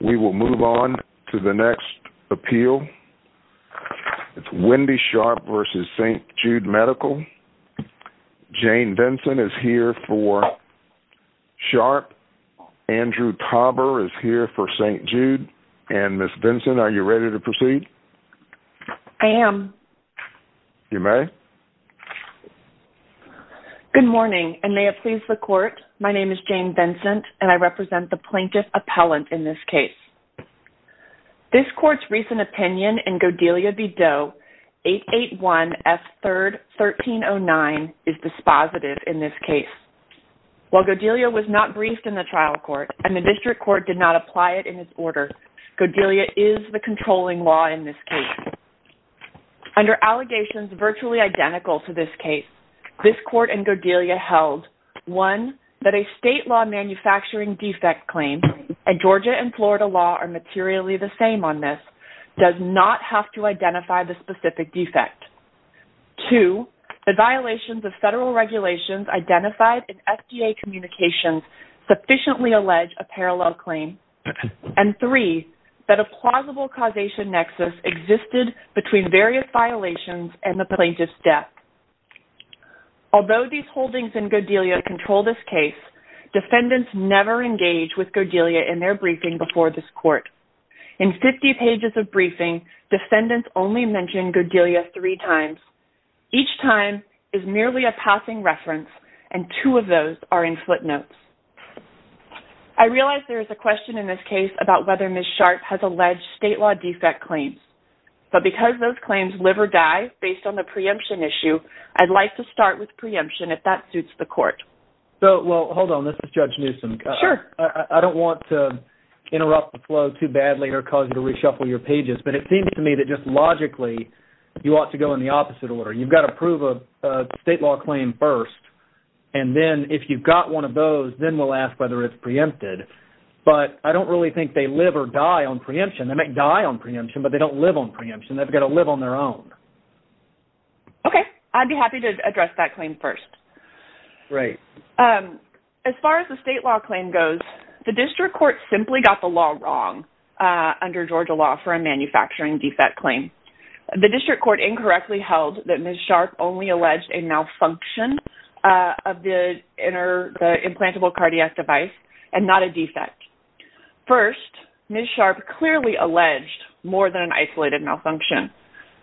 We will move on to the next appeal. It's Wendy Sharp v. St. Jude Medical. Jane Vinson is here for Sharp. Andrew Tauber is here for St. Jude. And Ms. Vinson, are you ready to proceed? I am. You may. Good morning and may it please the court. My name is Jane Vinson and I represent the plaintiff appellant in this case. This court's recent opinion in Godelia v. Doe 881 F. 3rd 1309 is dispositive in this case. While Godelia was not briefed in the trial court and the district court did not apply it in its order, Godelia is the controlling law in this case. Under allegations virtually identical to this case, this court in Godelia held, one, that a state law manufacturing defect claim, and Georgia and Florida law are materially the same on this, does not have to identify the specific defect. Two, the violations of federal regulations identified in FDA communications sufficiently allege a parallel claim. And three, that a plausible causation nexus existed between various violations and the plaintiff's death. Although these holdings in Godelia control this case, defendants never engage with Godelia in their briefing before this court. In 50 pages of briefing, defendants only mention Godelia three times. Each time is merely a passing reference and two of those are in footnotes. I realize there is a question in this case about whether Ms. Sharpe has alleged state law defect claims, but because those claims live or die based on the preemption issue, I'd like to start with preemption if that suits the court. So, well, hold on. This is Judge Newsom. Sure. I don't want to interrupt the flow too badly or cause you to reshuffle your pages, but it seems to me that just logically, you ought to go in the opposite order. You've got to prove a state law claim first, and then if you've got one of those, then we'll ask whether it's preempted. But I don't really think they live or die on preemption. They might die on preemption, but they don't live on preemption. They've got to live on their own. Okay. I'd be happy to address that claim first. Great. As far as the state law claim goes, the district court simply got the law wrong under Georgia law for a manufacturing defect claim. The district court incorrectly held that Ms. Sharpe only alleged a malfunction of the implantable cardiac device and not a defect. First, Ms. Sharpe clearly alleged more than an isolated malfunction.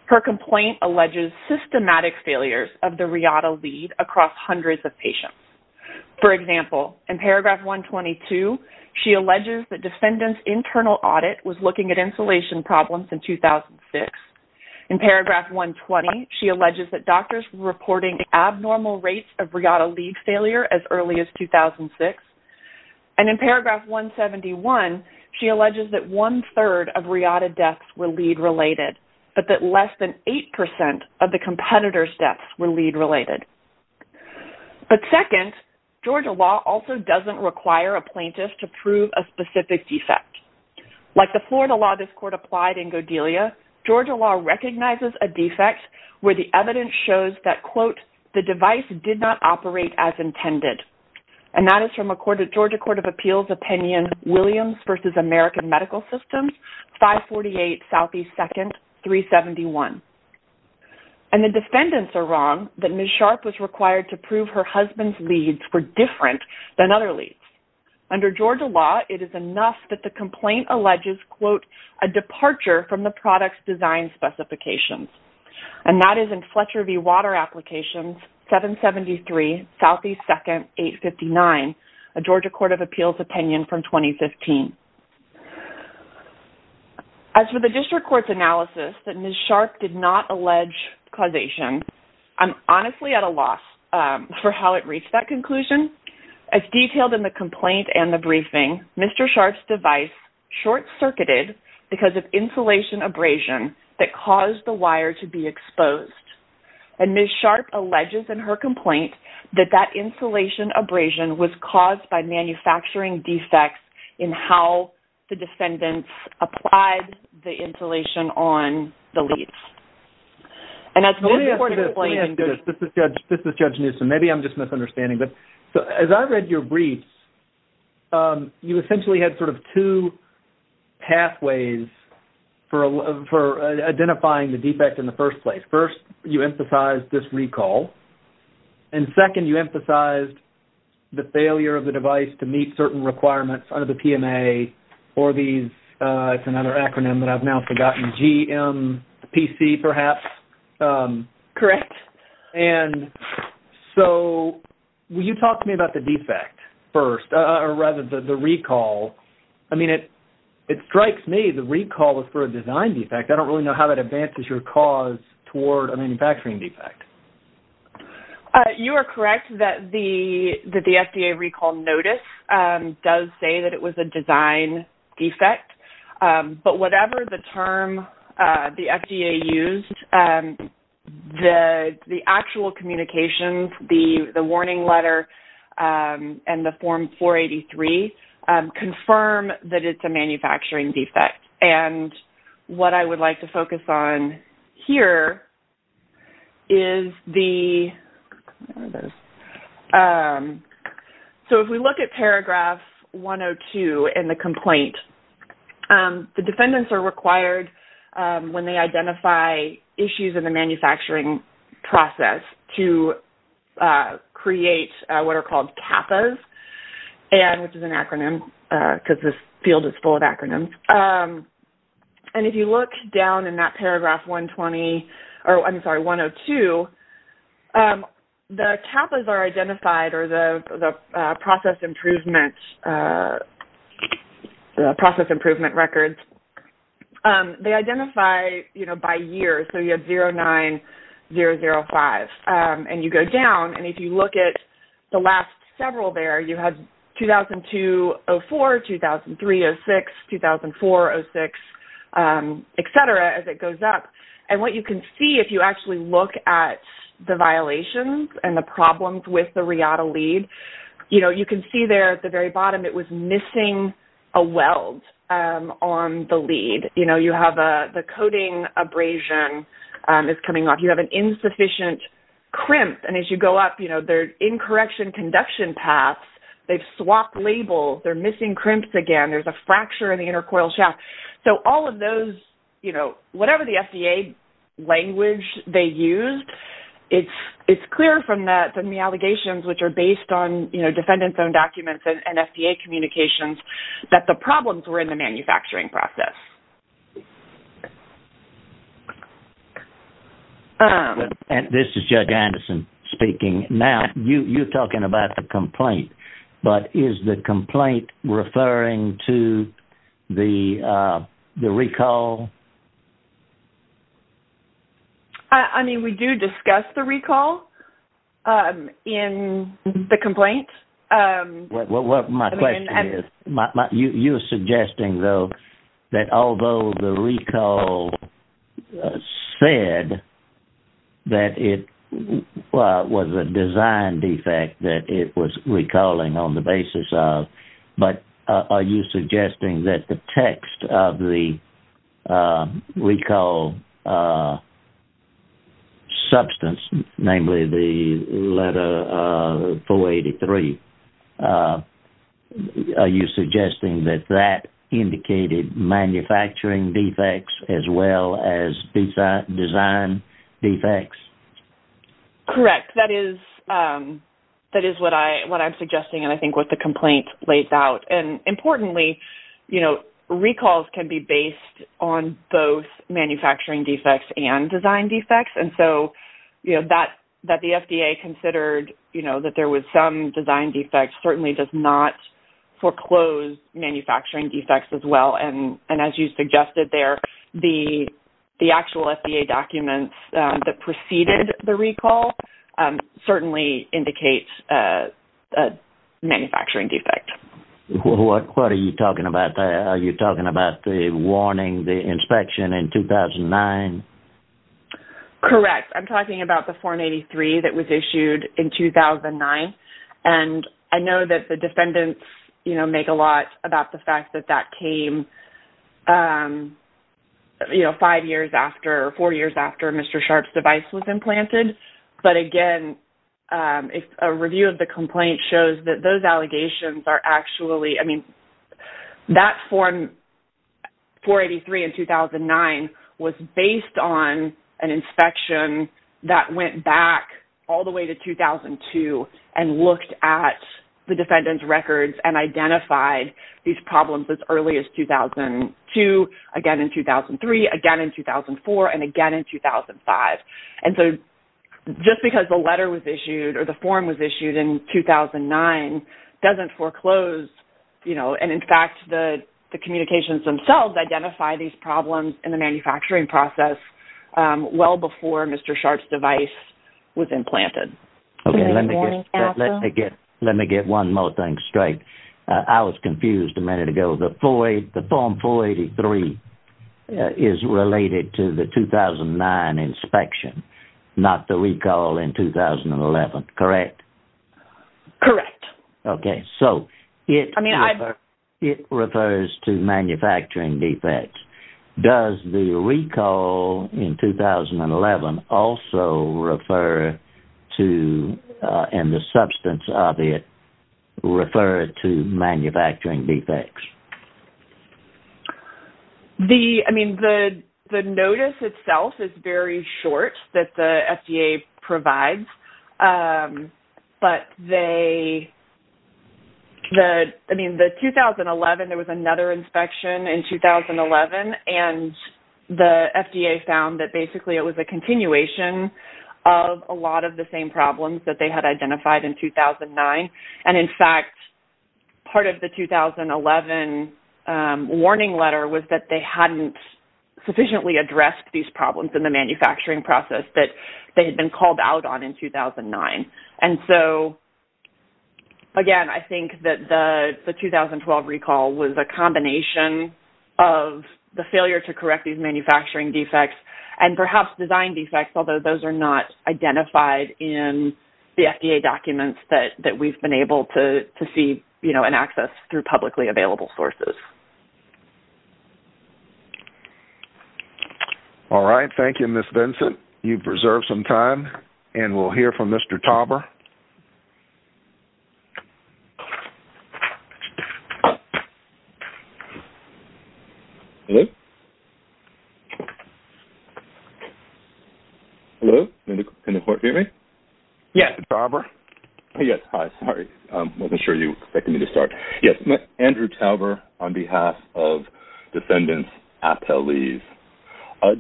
Her complaint alleges systematic failures of the RIATA lead across hundreds of patients. For example, in paragraph 122, she alleges that defendant's internal audit was looking at insulation problems in 2006. In paragraph 120, she alleges that doctors were reporting abnormal rates of RIATA lead failure as early as 2006. And in paragraph 171, she alleges that one-third of RIATA deaths were lead-related, but that less than 8% of the competitors' deaths were lead-related. But second, Georgia law also doesn't require a plaintiff to prove a specific defect. Like the Florida law this court applied in Godelia, Georgia law recognizes a defect where the evidence shows that, quote, the device did not operate as intended. And that is from a Georgia Court of Appeals opinion, Williams v. American Medical Systems, 548 Southeast 2nd, 371. And the defendants are wrong that Ms. Sharpe was required to prove her husband's leads were different than other leads. Under Georgia law, it is enough that the complaint alleges, quote, a departure from the product's design specifications. And that is in Fletcher v. Water Applications, 773 Southeast 2nd, 859, a Georgia Court of Appeals opinion from 2015. As for the district court's analysis that Ms. Sharpe did not allege causation, I'm honestly at a loss for how it reached that conclusion. As detailed in the complaint and the briefing, Mr. Sharpe's device short-circuited because of insulation abrasion that caused the wire to be exposed. And Ms. Sharpe alleges in her complaint that that insulation abrasion was caused by manufacturing defects in how the defendants applied the insulation on the leads. And as Ms. Sharpe's complaint... Let me ask you this. Let me ask you this. This is Judge Newsom. Maybe I'm just misunderstanding, but as I read your briefs, you essentially had sort of two pathways for identifying the defect in the first place. First, you emphasized this recall. And second, you emphasized the failure of the device to meet certain requirements under the PMA or these... It's another acronym that I've now forgotten, GMPC, perhaps. Correct. And so, will you talk to me about the defect first, or rather the recall? I mean, it strikes me the recall was for a design defect. I don't really know how that advances your cause toward a manufacturing defect. You are correct that the FDA recall notice does say that it was a design defect. But whatever the term the FDA used, the actual communications, the warning letter, and the Form 483 confirm that it's a manufacturing defect. And what I would like to focus on here is the... So, if we look at paragraph 102 in the complaint, the defendants are required when they identify issues in the manufacturing process to create what are called CAPAs, which is an acronym because this field is full of acronyms. And if you look down in that paragraph 120... I'm sorry, 102, the CAPAs are identified, or the process improvement records, they identify by year. So, you have 09, 005. And you go down, and if you look at the last several there, you have 2002-04, 2003-06, 2004-06, et cetera, as it goes up. And what you can see if you actually look at the violations and the problems with the RIATA lead, you can see there at the very bottom, it was missing a weld on the lead. You have the coating abrasion is coming off. You have an insufficient crimp. And as you go up, there's incorrection conduction paths. They've swapped labels. They're missing crimps again. There's a fracture in the inner coil shaft. So, all of those, whatever the FDA language they used, it's clear from the allegations, which are based on defendants' own documents and FDA communications, that the problems were in the manufacturing process. This is Judge Anderson speaking. Now, you're talking about the complaint, but is the complaint referring to the recall? I mean, we do discuss the recall in the complaint. Well, my question is, you're suggesting, though, that although the recall said that it was a design defect that it was recalling on the basis of, but are you suggesting that the are you suggesting that that indicated manufacturing defects as well as design defects? Correct. That is what I'm suggesting and I think what the complaint lays out. And importantly, recalls can be based on both manufacturing defects and design defects. And so, you know, that the FDA considered, you know, that there was some design defect certainly does not foreclose manufacturing defects as well. And as you suggested there, the actual FDA documents that preceded the recall certainly indicates a manufacturing defect. What are you talking about? Are you talking about the warning, the inspection in 2009? Correct. I'm talking about the 483 that was issued in 2009. And I know that the defendants, you know, make a lot about the fact that that came, you know, five years after or four years after Mr. Sharpe's device was implanted. But again, a review of the complaint shows that those allegations are actually, I mean, that form 483 in 2009 was based on an inspection that went back all the way to 2002 and looked at the defendant's records and identified these problems as early as 2002, again in 2003, again in 2004, and again in 2005. And so, just because the letter was issued or the form was issued in 2009 doesn't foreclose, you know, and in fact, the communications themselves identify these problems in the manufacturing process well before Mr. Sharpe's device was implanted. Okay. Let me get one more thing straight. I was confused a minute ago. The form 483 is related to the 2009 inspection, not the recall in 2011, correct? Correct. Okay. So, it refers to manufacturing defects. Does the recall in 2011 also refer to, and the substance of it, refer to manufacturing defects? The, I mean, the notice itself is very short that the FDA provides. But they, the, I mean, the 2011, there was another inspection in 2011, and the FDA found that basically it was a continuation of a lot of the same problems that they had identified in 2009. And in fact, part of the 2011 warning letter was that they hadn't sufficiently addressed these problems in the manufacturing process that they had been called out on in 2009. And so, again, I think that the 2012 recall was a combination of the failure to correct these manufacturing defects and perhaps design defects, although those are not been able to see, you know, and access through publicly available sources. All right. Thank you, Ms. Vincent. You've reserved some time. And we'll hear from Mr. Tauber. Hello? Hello? Can the court hear me? Yes. Mr. Tauber? Yes. Hi. Sorry. I wasn't sure you expected me to start. Yes. Andrew Tauber on behalf of defendants' appellees.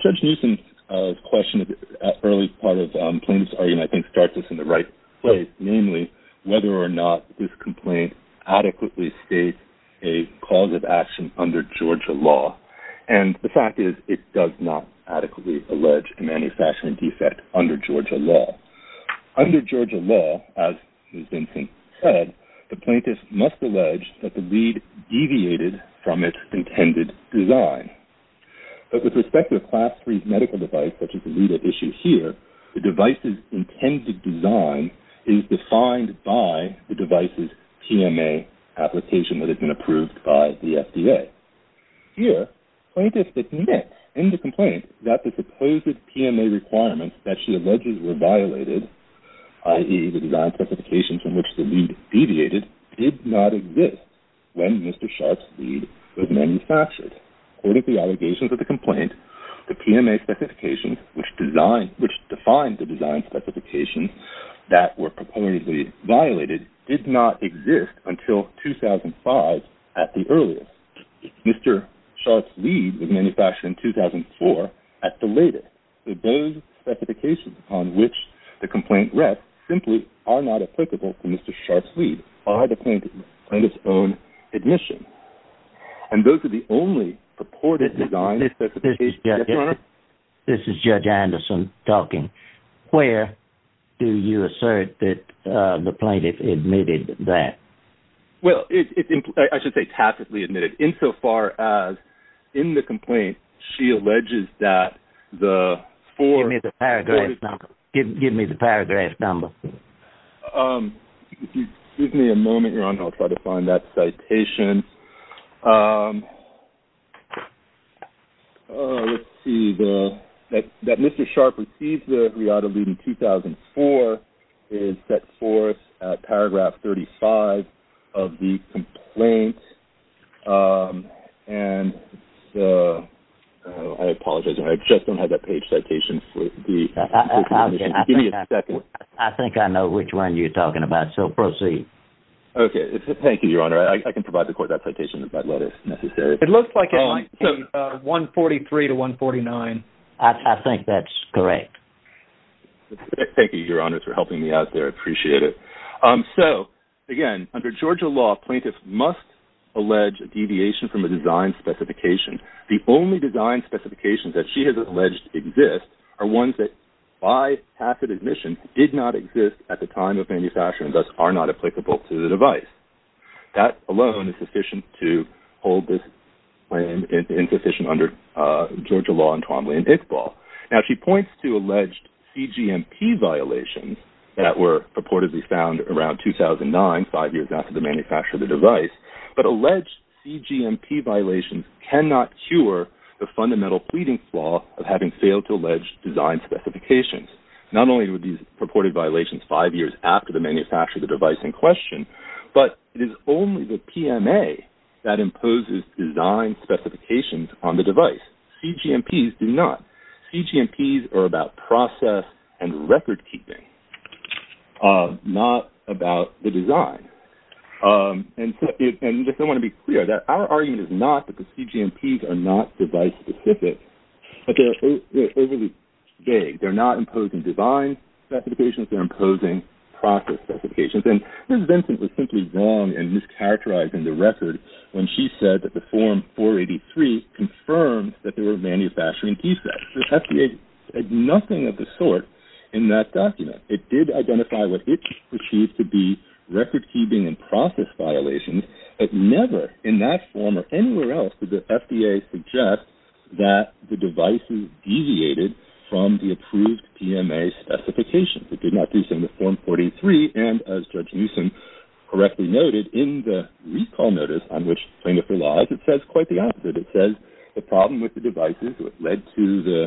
Judge Newsom's question at the early part of plaintiff's argument, I think, starts us in the right place. Namely, whether or not this complaint adequately states a cause of action under Georgia law. And the fact is, it does not adequately allege a fashion defect under Georgia law. Under Georgia law, as Ms. Vincent said, the plaintiff must allege that the lead deviated from its intended design. But with respect to a Class 3 medical device, such as the lead at issue here, the device's intended design is defined by the device's PMA application that had been approved by the FDA. Here, plaintiffs admit in the complaint that the supposed PMA requirements that she alleges were violated, i.e., the design specifications from which the lead deviated, did not exist when Mr. Sharp's lead was manufactured. According to the allegations of the complaint, the PMA specifications, which defined the design specifications that were purportedly violated, did not exist until 2005 at the earliest. Mr. Sharp's lead was manufactured in 2004 at the latest. So those specifications upon which the complaint rests simply are not applicable to Mr. Sharp's lead, or the plaintiff's own admission. And those are the only purported design specifications... This is Judge Anderson talking. Where do you assert that the plaintiff admitted that? Well, I should say tacitly admitted, insofar as, in the complaint, she alleges that the four... Give me the paragraph number. Give me the paragraph number. If you give me a moment, Ron, I'll try to find that citation. Let's see. That Mr. Sharp received the Leotta lead in 2004 is set forth at paragraph 35 of the complaint. And I apologize. I just don't have that page citation. I think I know which one you're talking about. So proceed. Okay. Thank you, Your Honor. I can provide the court that citation if that letter is necessary. It looks like it might be 143 to 149. I think that's correct. Thank you, Your Honor, for helping me out there. I appreciate it. So again, under Georgia law, plaintiffs must allege a deviation from a design specification. The only design specifications that she has alleged exist are ones that, by tacit admission, did not exist at the time of application to the device. That alone is sufficient to hold this claim insufficient under Georgia law and Twombly and Iqbal. Now, she points to alleged CGMP violations that were purportedly found around 2009, five years after the manufacture of the device. But alleged CGMP violations cannot cure the fundamental pleading flaw of having failed to allege design specifications. Not only were these purported violations five years after the manufacture of the device in question, but it is only the PMA that imposes design specifications on the device. CGMPs do not. CGMPs are about process and record keeping, not about the design. And just I want to be clear that our argument is not that the CGMPs are not device-specific, but they're overly vague. They're not imposing design specifications, they're imposing process specifications. And Ms. Vincent was simply wrong in mischaracterizing the record when she said that the Form 483 confirmed that there were manufacturing key sets. The FDA said nothing of the sort in that document. It did identify what it perceived to be record keeping and process violations, but never in that form or anywhere else did the FDA suggest that the device deviated from the approved PMA specifications. It did not do so in the Form 43, and as Judge Newsom correctly noted in the recall notice on which plaintiff relies, it says quite the opposite. It says the problem with the devices that led to the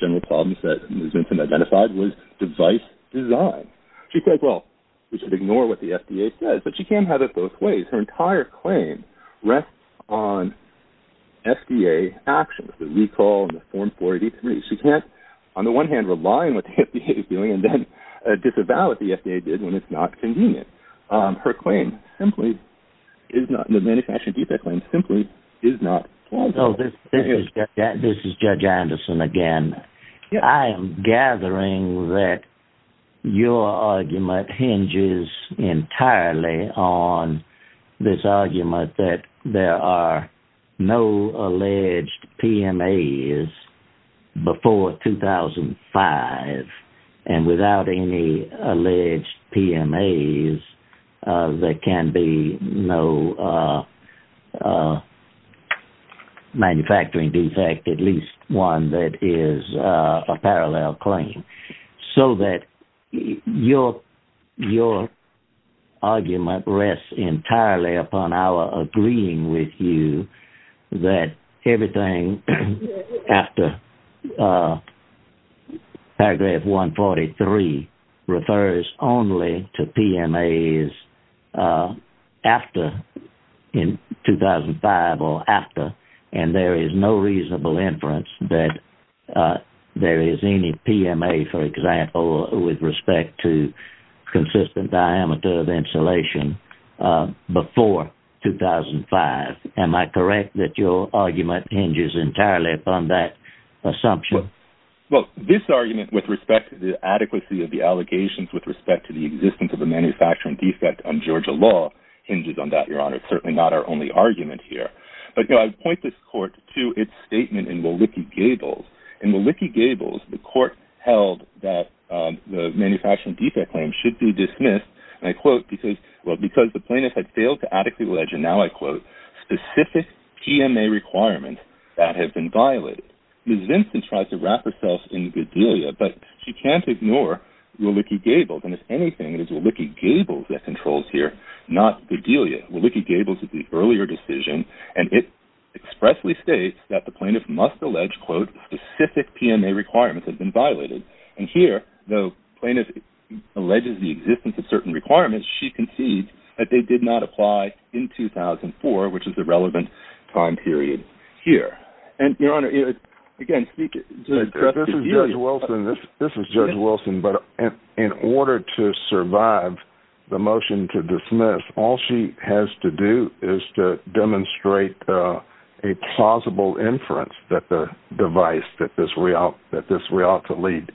general problems that Ms. Vincent identified was device design. She said, well, we should ignore what the FDA says, but she can't have it both ways. Her entire claim rests on FDA actions, the recall and the Form 483. She can't, on the one hand, rely on what the FDA is doing and then disavow what the FDA did when it's not convenient. Her claim simply is not, the manufacturing defect claim simply is not plausible. This is Judge Anderson again. I am gathering that your argument hinges entirely on this argument that there are no alleged PMAs before 2005, and without any alleged PMAs, there can be no manufacturing defect, at least one that is a parallel claim, so that your argument rests entirely upon our agreeing with you that everything after paragraph 143 refers only to PMAs after 2005 or after, and there is no reasonable inference that there is any PMA, for example, with respect to consistent diameter of insulation before 2005. Am I correct that your argument hinges entirely upon that assumption? Well, this argument with respect to the adequacy of the allegations with respect to the existence of a manufacturing defect on Georgia law hinges on that, Your Honor. It's certainly not our only argument. In Willicke-Gables, the court held that the manufacturing defect claim should be dismissed, and I quote, because, well, because the plaintiff had failed to adequately allege, and now I quote, specific PMA requirements that have been violated. Ms. Vincent tries to wrap herself in the good deal yet, but she can't ignore Willicke-Gables, and if anything, it is Willicke-Gables that controls here, not good deal yet. Willicke-Gables is the earlier decision, and it expressly states that the plaintiff must allege, quote, specific PMA requirements have been violated, and here, though plaintiff alleges the existence of certain requirements, she concedes that they did not apply in 2004, which is the relevant time period here, and Your Honor, again, speak to this. This is Judge Wilson, but in order to survive the motion to dismiss, all she has to do is to demonstrate a plausible inference that the device that this Rialto lead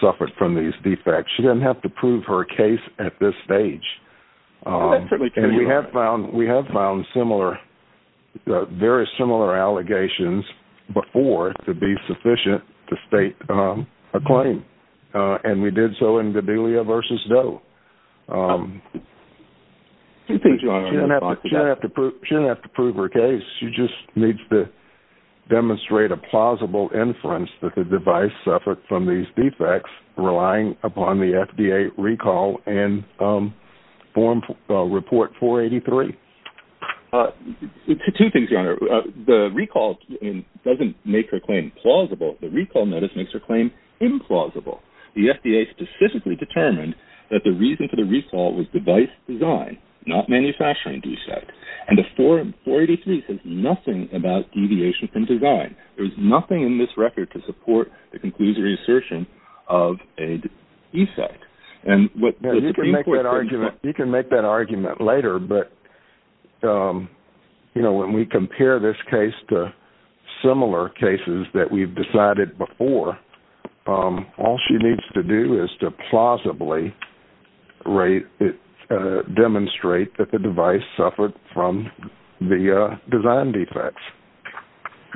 suffered from these defects. She doesn't have to prove her case at this stage, and we have found similar, very similar allegations before to be sufficient to state a claim, and we did so in 2004. She doesn't have to prove her case. She just needs to demonstrate a plausible inference that the device suffered from these defects, relying upon the FDA recall and report 483. Two things, Your Honor. The recall doesn't make her claim plausible. The recall notice makes her claim implausible. The FDA specifically determined that the reason for the recall was device design, not manufacturing defect, and the 483 says nothing about deviation from design. There's nothing in this record to support the conclusion or assertion of a defect. You can make that argument later, but when we compare this case to similar cases that we've decided before, all she needs to do is to plausibly demonstrate that the device suffered from the design defects.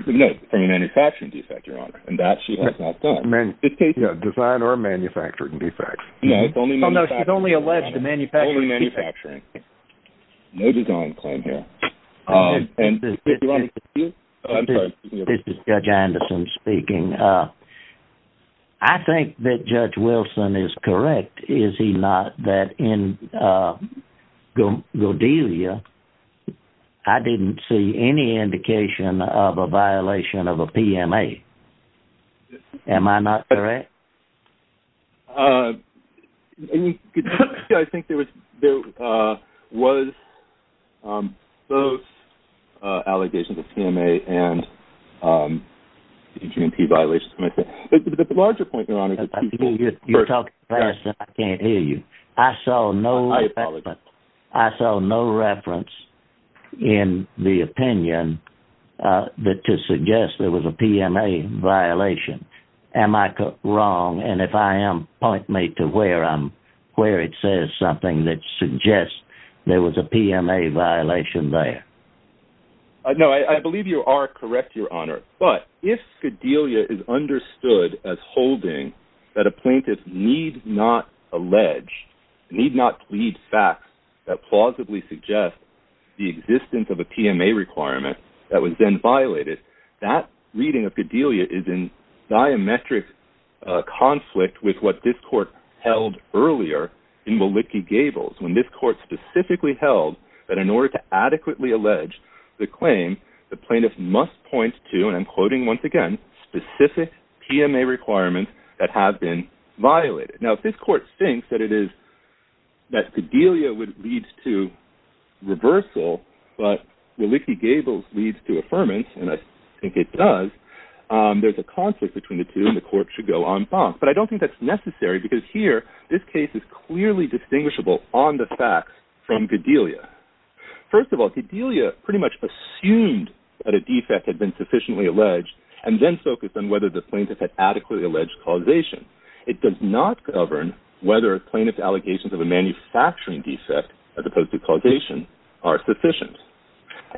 No, from a manufacturing defect, Your Honor, and that she has not done. Design or manufacturing defects. No, it's only manufacturing. She's only alleged to manufacturing defects. Only manufacturing. No design claim here. This is Judge Anderson speaking. I think that Judge Wilson is correct, is he not, that in Godelia, I didn't see any indication of a violation of a PMA. Am I not correct? I think there was both allegations of PMA and EG&P violations. The larger point, Your Honor. You're talking fast and I can't hear you. I saw no reference in the opinion to suggest there was a and if I am, point me to where it says something that suggests there was a PMA violation there. No, I believe you are correct, Your Honor, but if Godelia is understood as holding that a plaintiff need not allege, need not plead facts that plausibly suggest the existence of a PMA requirement that was then violated, that reading of Godelia is in diametric conflict with what this court held earlier in Willicki-Gables, when this court specifically held that in order to adequately allege the claim, the plaintiff must point to, and I'm quoting once again, specific PMA requirements that have been violated. Now, if this court thinks that it is, that Godelia would lead to reversal, but Willicki-Gables leads to affirmance, and I think it does, there's a conflict between the two and the court should go en face, but I don't think that's necessary because here, this case is clearly distinguishable on the facts from Godelia. First of all, Godelia pretty much assumed that a defect had been sufficiently alleged and then focused on whether the plaintiff had adequately alleged causation. It does not govern whether plaintiff's allegations of a manufacturing defect, as opposed to causation, are sufficient.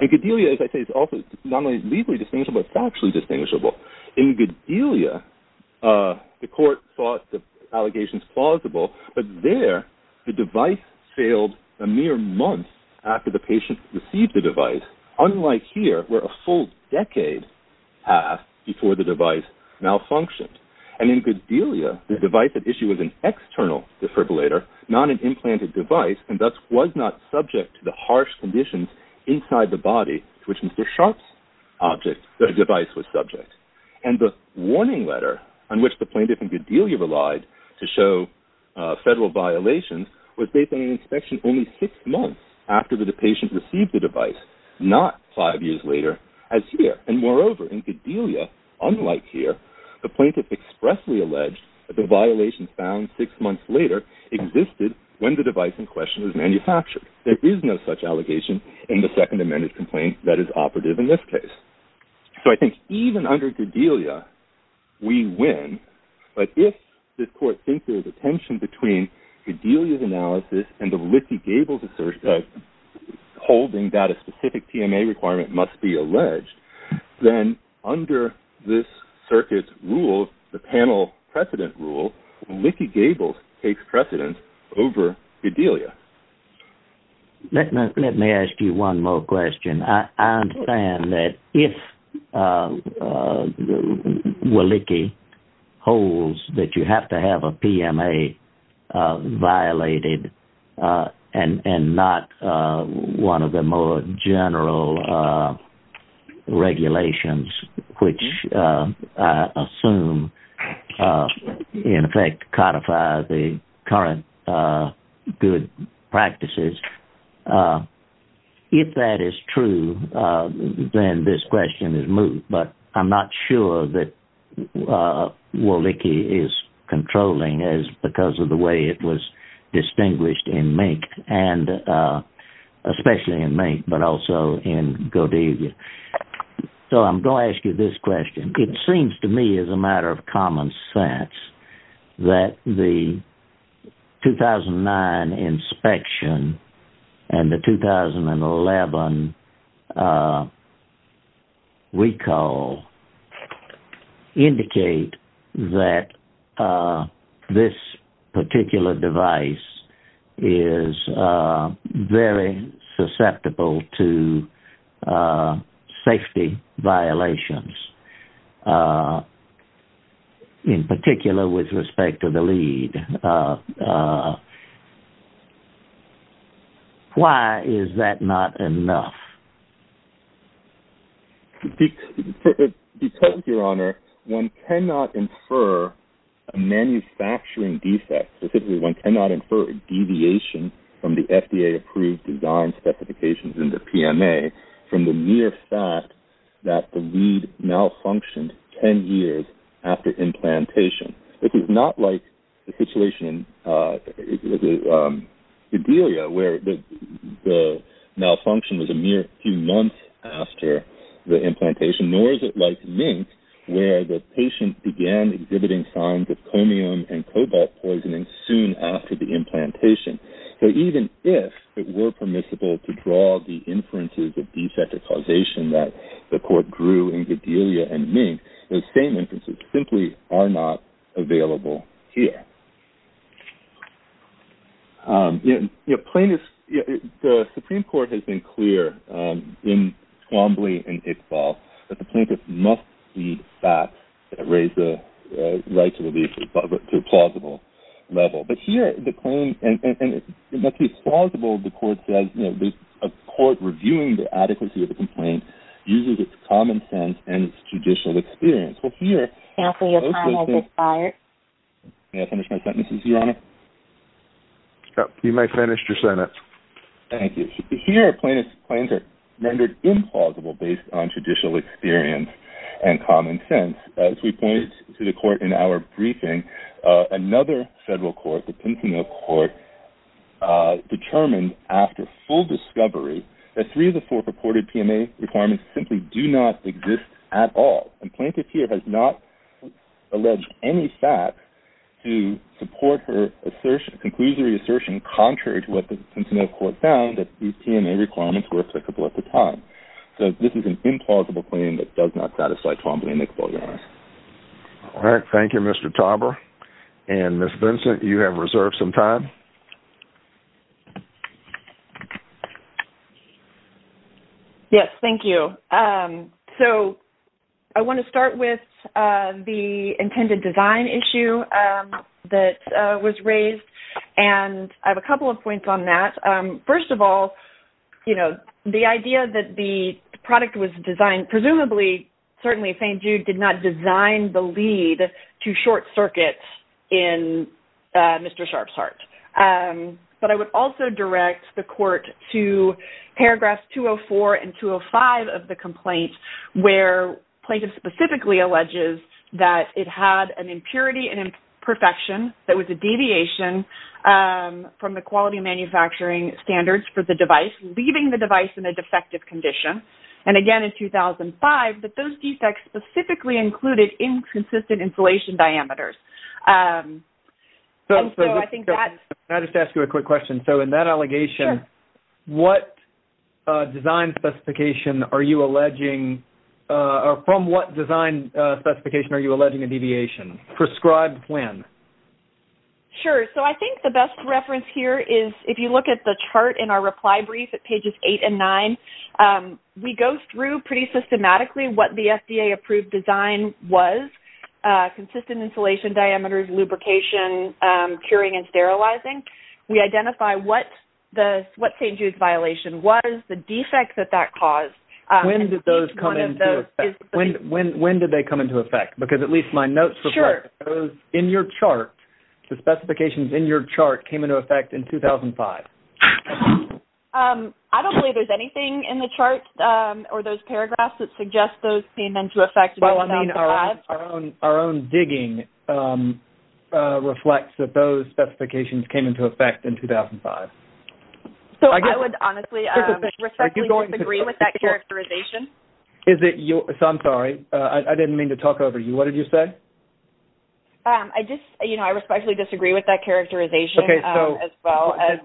And Godelia, as I say, is not only legally distinguishable, it's factually distinguishable. In Godelia, the court thought the allegations plausible, but there, the device failed a mere month after the patient received the device, unlike here, where a full decade passed before the device malfunctioned. And in Godelia, the device at issue was an external defibrillator, not an implanted device, and thus was not subject to the harsh conditions inside the body to which Mr. Sharp's device was subject. And the warning letter on which the plaintiff in Godelia relied to show federal violations was based on an inspection only six months after the patient received the device, not five years later as here. And moreover, in Godelia, unlike here, the plaintiff expressly alleged that the violations found six months later existed when the device in question was manufactured. There is no such allegation in the second amended complaint that is operative in this case. So I think even under Godelia, we win, but if this court thinks there's a tension between Godelia's analysis and the circuit's rule, the panel precedent rule, Willicke-Gables takes precedence over Godelia. Let me ask you one more question. I understand that if Willicke holds that you have to have a PMA violated and not one of the more general regulations, which I assume in effect codify the current good practices. If that is true, then this question is moved, but I'm not sure that Willicke is controlling as because of the way it was distinguished in Mink and especially in Mink, but also in Godelia. So I'm going to ask you this question. It seems to me as a matter of common sense that the 2009 inspection and the 2011 recall indicate that this particular device is very susceptible to safety violations, in particular with respect to the lead. Why is that not enough? Because, Your Honor, one cannot infer a manufacturing defect. Specifically, one cannot infer a deviation from the FDA-approved design specifications in the PMA from the mere fact that the lead malfunctioned 10 years after implantation. This is not like the situation in Godelia, where the malfunction was a mere few months after the implantation, nor is it like Mink, where the patient began exhibiting signs of chromium and cobalt soon after the implantation. So even if it were permissible to draw the inferences of defective causation that the Court drew in Godelia and Mink, those same inferences simply are not available here. The Supreme Court has been clear in Quambly and Iqbal that the plaintiff must see facts that raise the right to relief to a plausible level. But here, a court reviewing the adequacy of the complaint uses its common sense and its judicial experience. Here, plaintiffs' claims are rendered implausible based on judicial experience and common sense. As we pointed to the Court in our briefing, another federal court, the Pincinello Court, determined after full discovery that three of the four purported PMA requirements simply do not exist at all. And plaintiff here has not alleged any fact to support her conclusionary assertion contrary to what the Pincinello Court found, that these PMA requirements were applicable at the time. So this is an implausible claim that does not satisfy Quambly and Iqbal, Your Honor. All right. Thank you, Mr. Tauber. And Ms. Vincent, you have reserved some time. Yes. Thank you. So I want to start with the intended design issue that was raised. And I have a couple of points on that. First of all, you know, the idea that the product was designed, presumably, certainly, St. Jude did not design the lead to Short Circuit in Mr. Sharf's heart. But I would also direct the Court to paragraphs 204 and 205 of the complaint, where plaintiff specifically alleges that it had an impurity and imperfection that was a deviation from the quality manufacturing standards for the device, leaving the device in a defective condition. And again, in 2005, that those defects specifically included inconsistent insulation diameters. And so, I think that... Can I just ask you a quick question? So in that allegation, what design specification are you alleging, or from what design specification are you alleging a deviation? Prescribed when? Sure. So I think the best reference here is, if you look at the chart in our reply brief, at pages 8 and 9, we go through pretty systematically what the FDA-approved design was, consistent insulation diameters, lubrication, curing, and sterilizing. We identify what St. Jude's violation was, the defects that that caused. When did those come into effect? When did they come into effect? Because at least my notes reflect those in your chart. The specifications in your chart came into effect in 2005. I don't believe there's anything in the chart or those paragraphs that suggest those came into effect in 2005. Well, I mean, our own digging reflects that those specifications came into effect in 2005. So I would honestly respectfully disagree with that characterization. Is it your... So I'm sorry. I didn't mean to talk over you. What did you say? I just... You know, I respectfully disagree with that characterization as well as...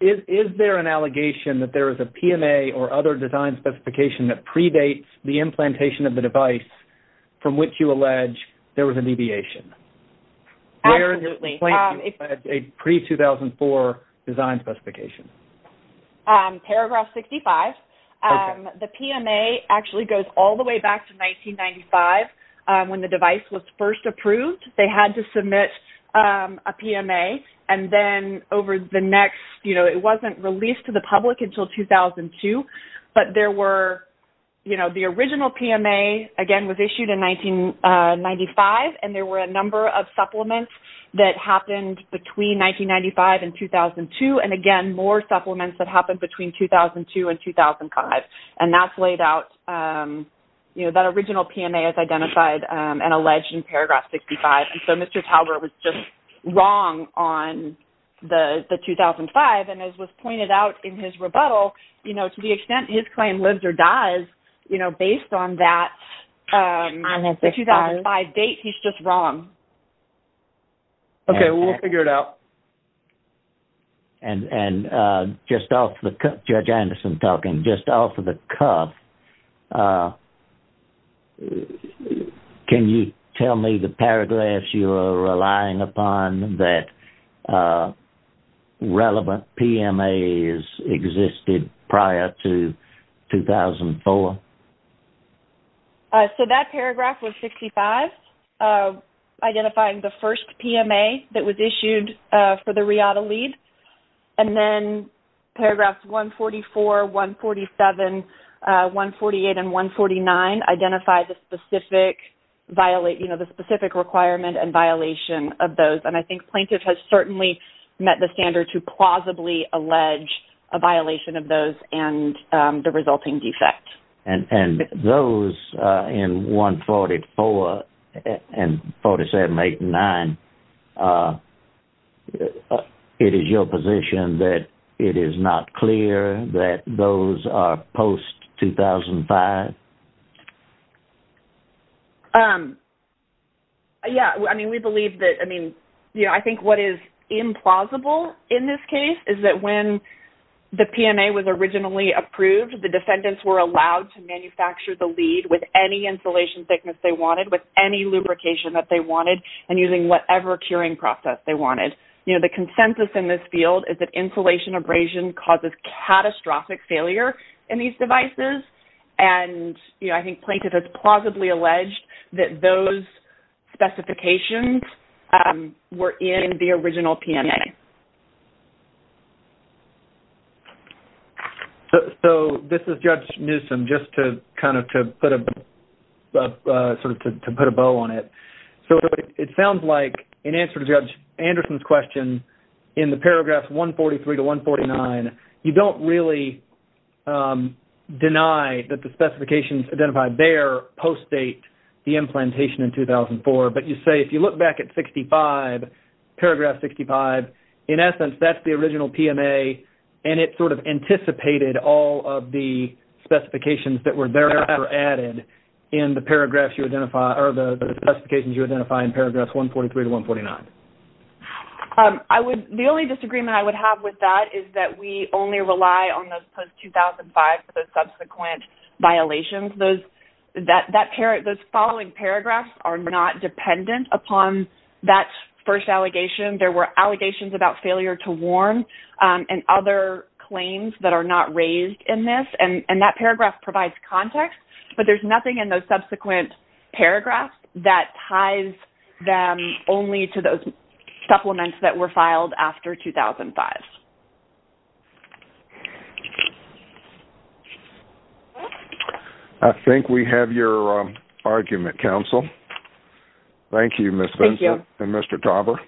Is there an allegation that there is a PMA or other design specification that predates the implantation of the device from which you allege there was a deviation? Absolutely. Where in your plan do you allege a pre-2004 design specification? Paragraph 65. The PMA actually goes all the way back to 1995 when the device was first approved. They had to submit a PMA, and then over the next... You know, it wasn't released to the public until 2002. But there were... You know, the original PMA, again, was issued in 1995, and there were a number of supplements that happened between 1995 and 2002. And again, more supplements that happened between 2002 and 2005. And that's laid out... You know, that original PMA is identified and alleged in paragraph 65. And so Mr. Talbert was just wrong on the 2005. And as was pointed out in his rebuttal, you know, to the extent his claim lives or dies, you know, based on that 2005 date, he's just wrong. Okay, we'll figure it out. And just off the... Judge Anderson talking. Just off of the cuff, can you tell me the paragraphs you are relying upon that relevant PMAs existed prior to 2004? So that paragraph was 65, identifying the first PMA that was issued for the RIATA lead. And then paragraphs 144, 147, 148, and 149 identify the specific violate... You know, the specific requirement and violation of those. And I think plaintiff has certainly met the standard to plausibly allege a violation of those and the resulting defect. And those in 144 and 147, 148, and 149, it is your position that it is not clear that those are post-2005? Yeah. I mean, we believe that... I mean, you know, I think what is implausible in this case is that when the PMA was originally approved, the defendants were allowed to manufacture the lead with any insulation thickness they wanted, with any lubrication that they wanted, and using whatever curing process they wanted. You know, the consensus in this field is that insulation abrasion causes catastrophic failure in these devices. And, you know, I think plaintiff has plausibly alleged that those specifications were in the original PMA. So, this is Judge Newsom, just to kind of put a... sort of to put a bow on it. So, it sounds like, in answer to Judge Anderson's question, in the paragraphs 143 to 149, you don't really deny that the specifications identified there post-date the implantation in 2004, but you say, if you look back at 65, paragraph 65, in essence, that's the original PMA, and it sort of anticipated all of the specifications that were thereafter added in the paragraphs you identify... or the specifications you identify in paragraph 143 to 149. I would... the only disagreement I would have with that is that we only rely on those post-2005 for the subsequent violations. Those... that... those following paragraphs are not dependent upon that first allegation. There were allegations about failure to warm and other claims that are not raised in this, and that paragraph provides context, but there's nothing in those subsequent paragraphs that ties them only to those supplements that were filed after 2005. I think we have your argument, counsel. Thank you, Ms. Benson. Thank you. And Mr. Tauber.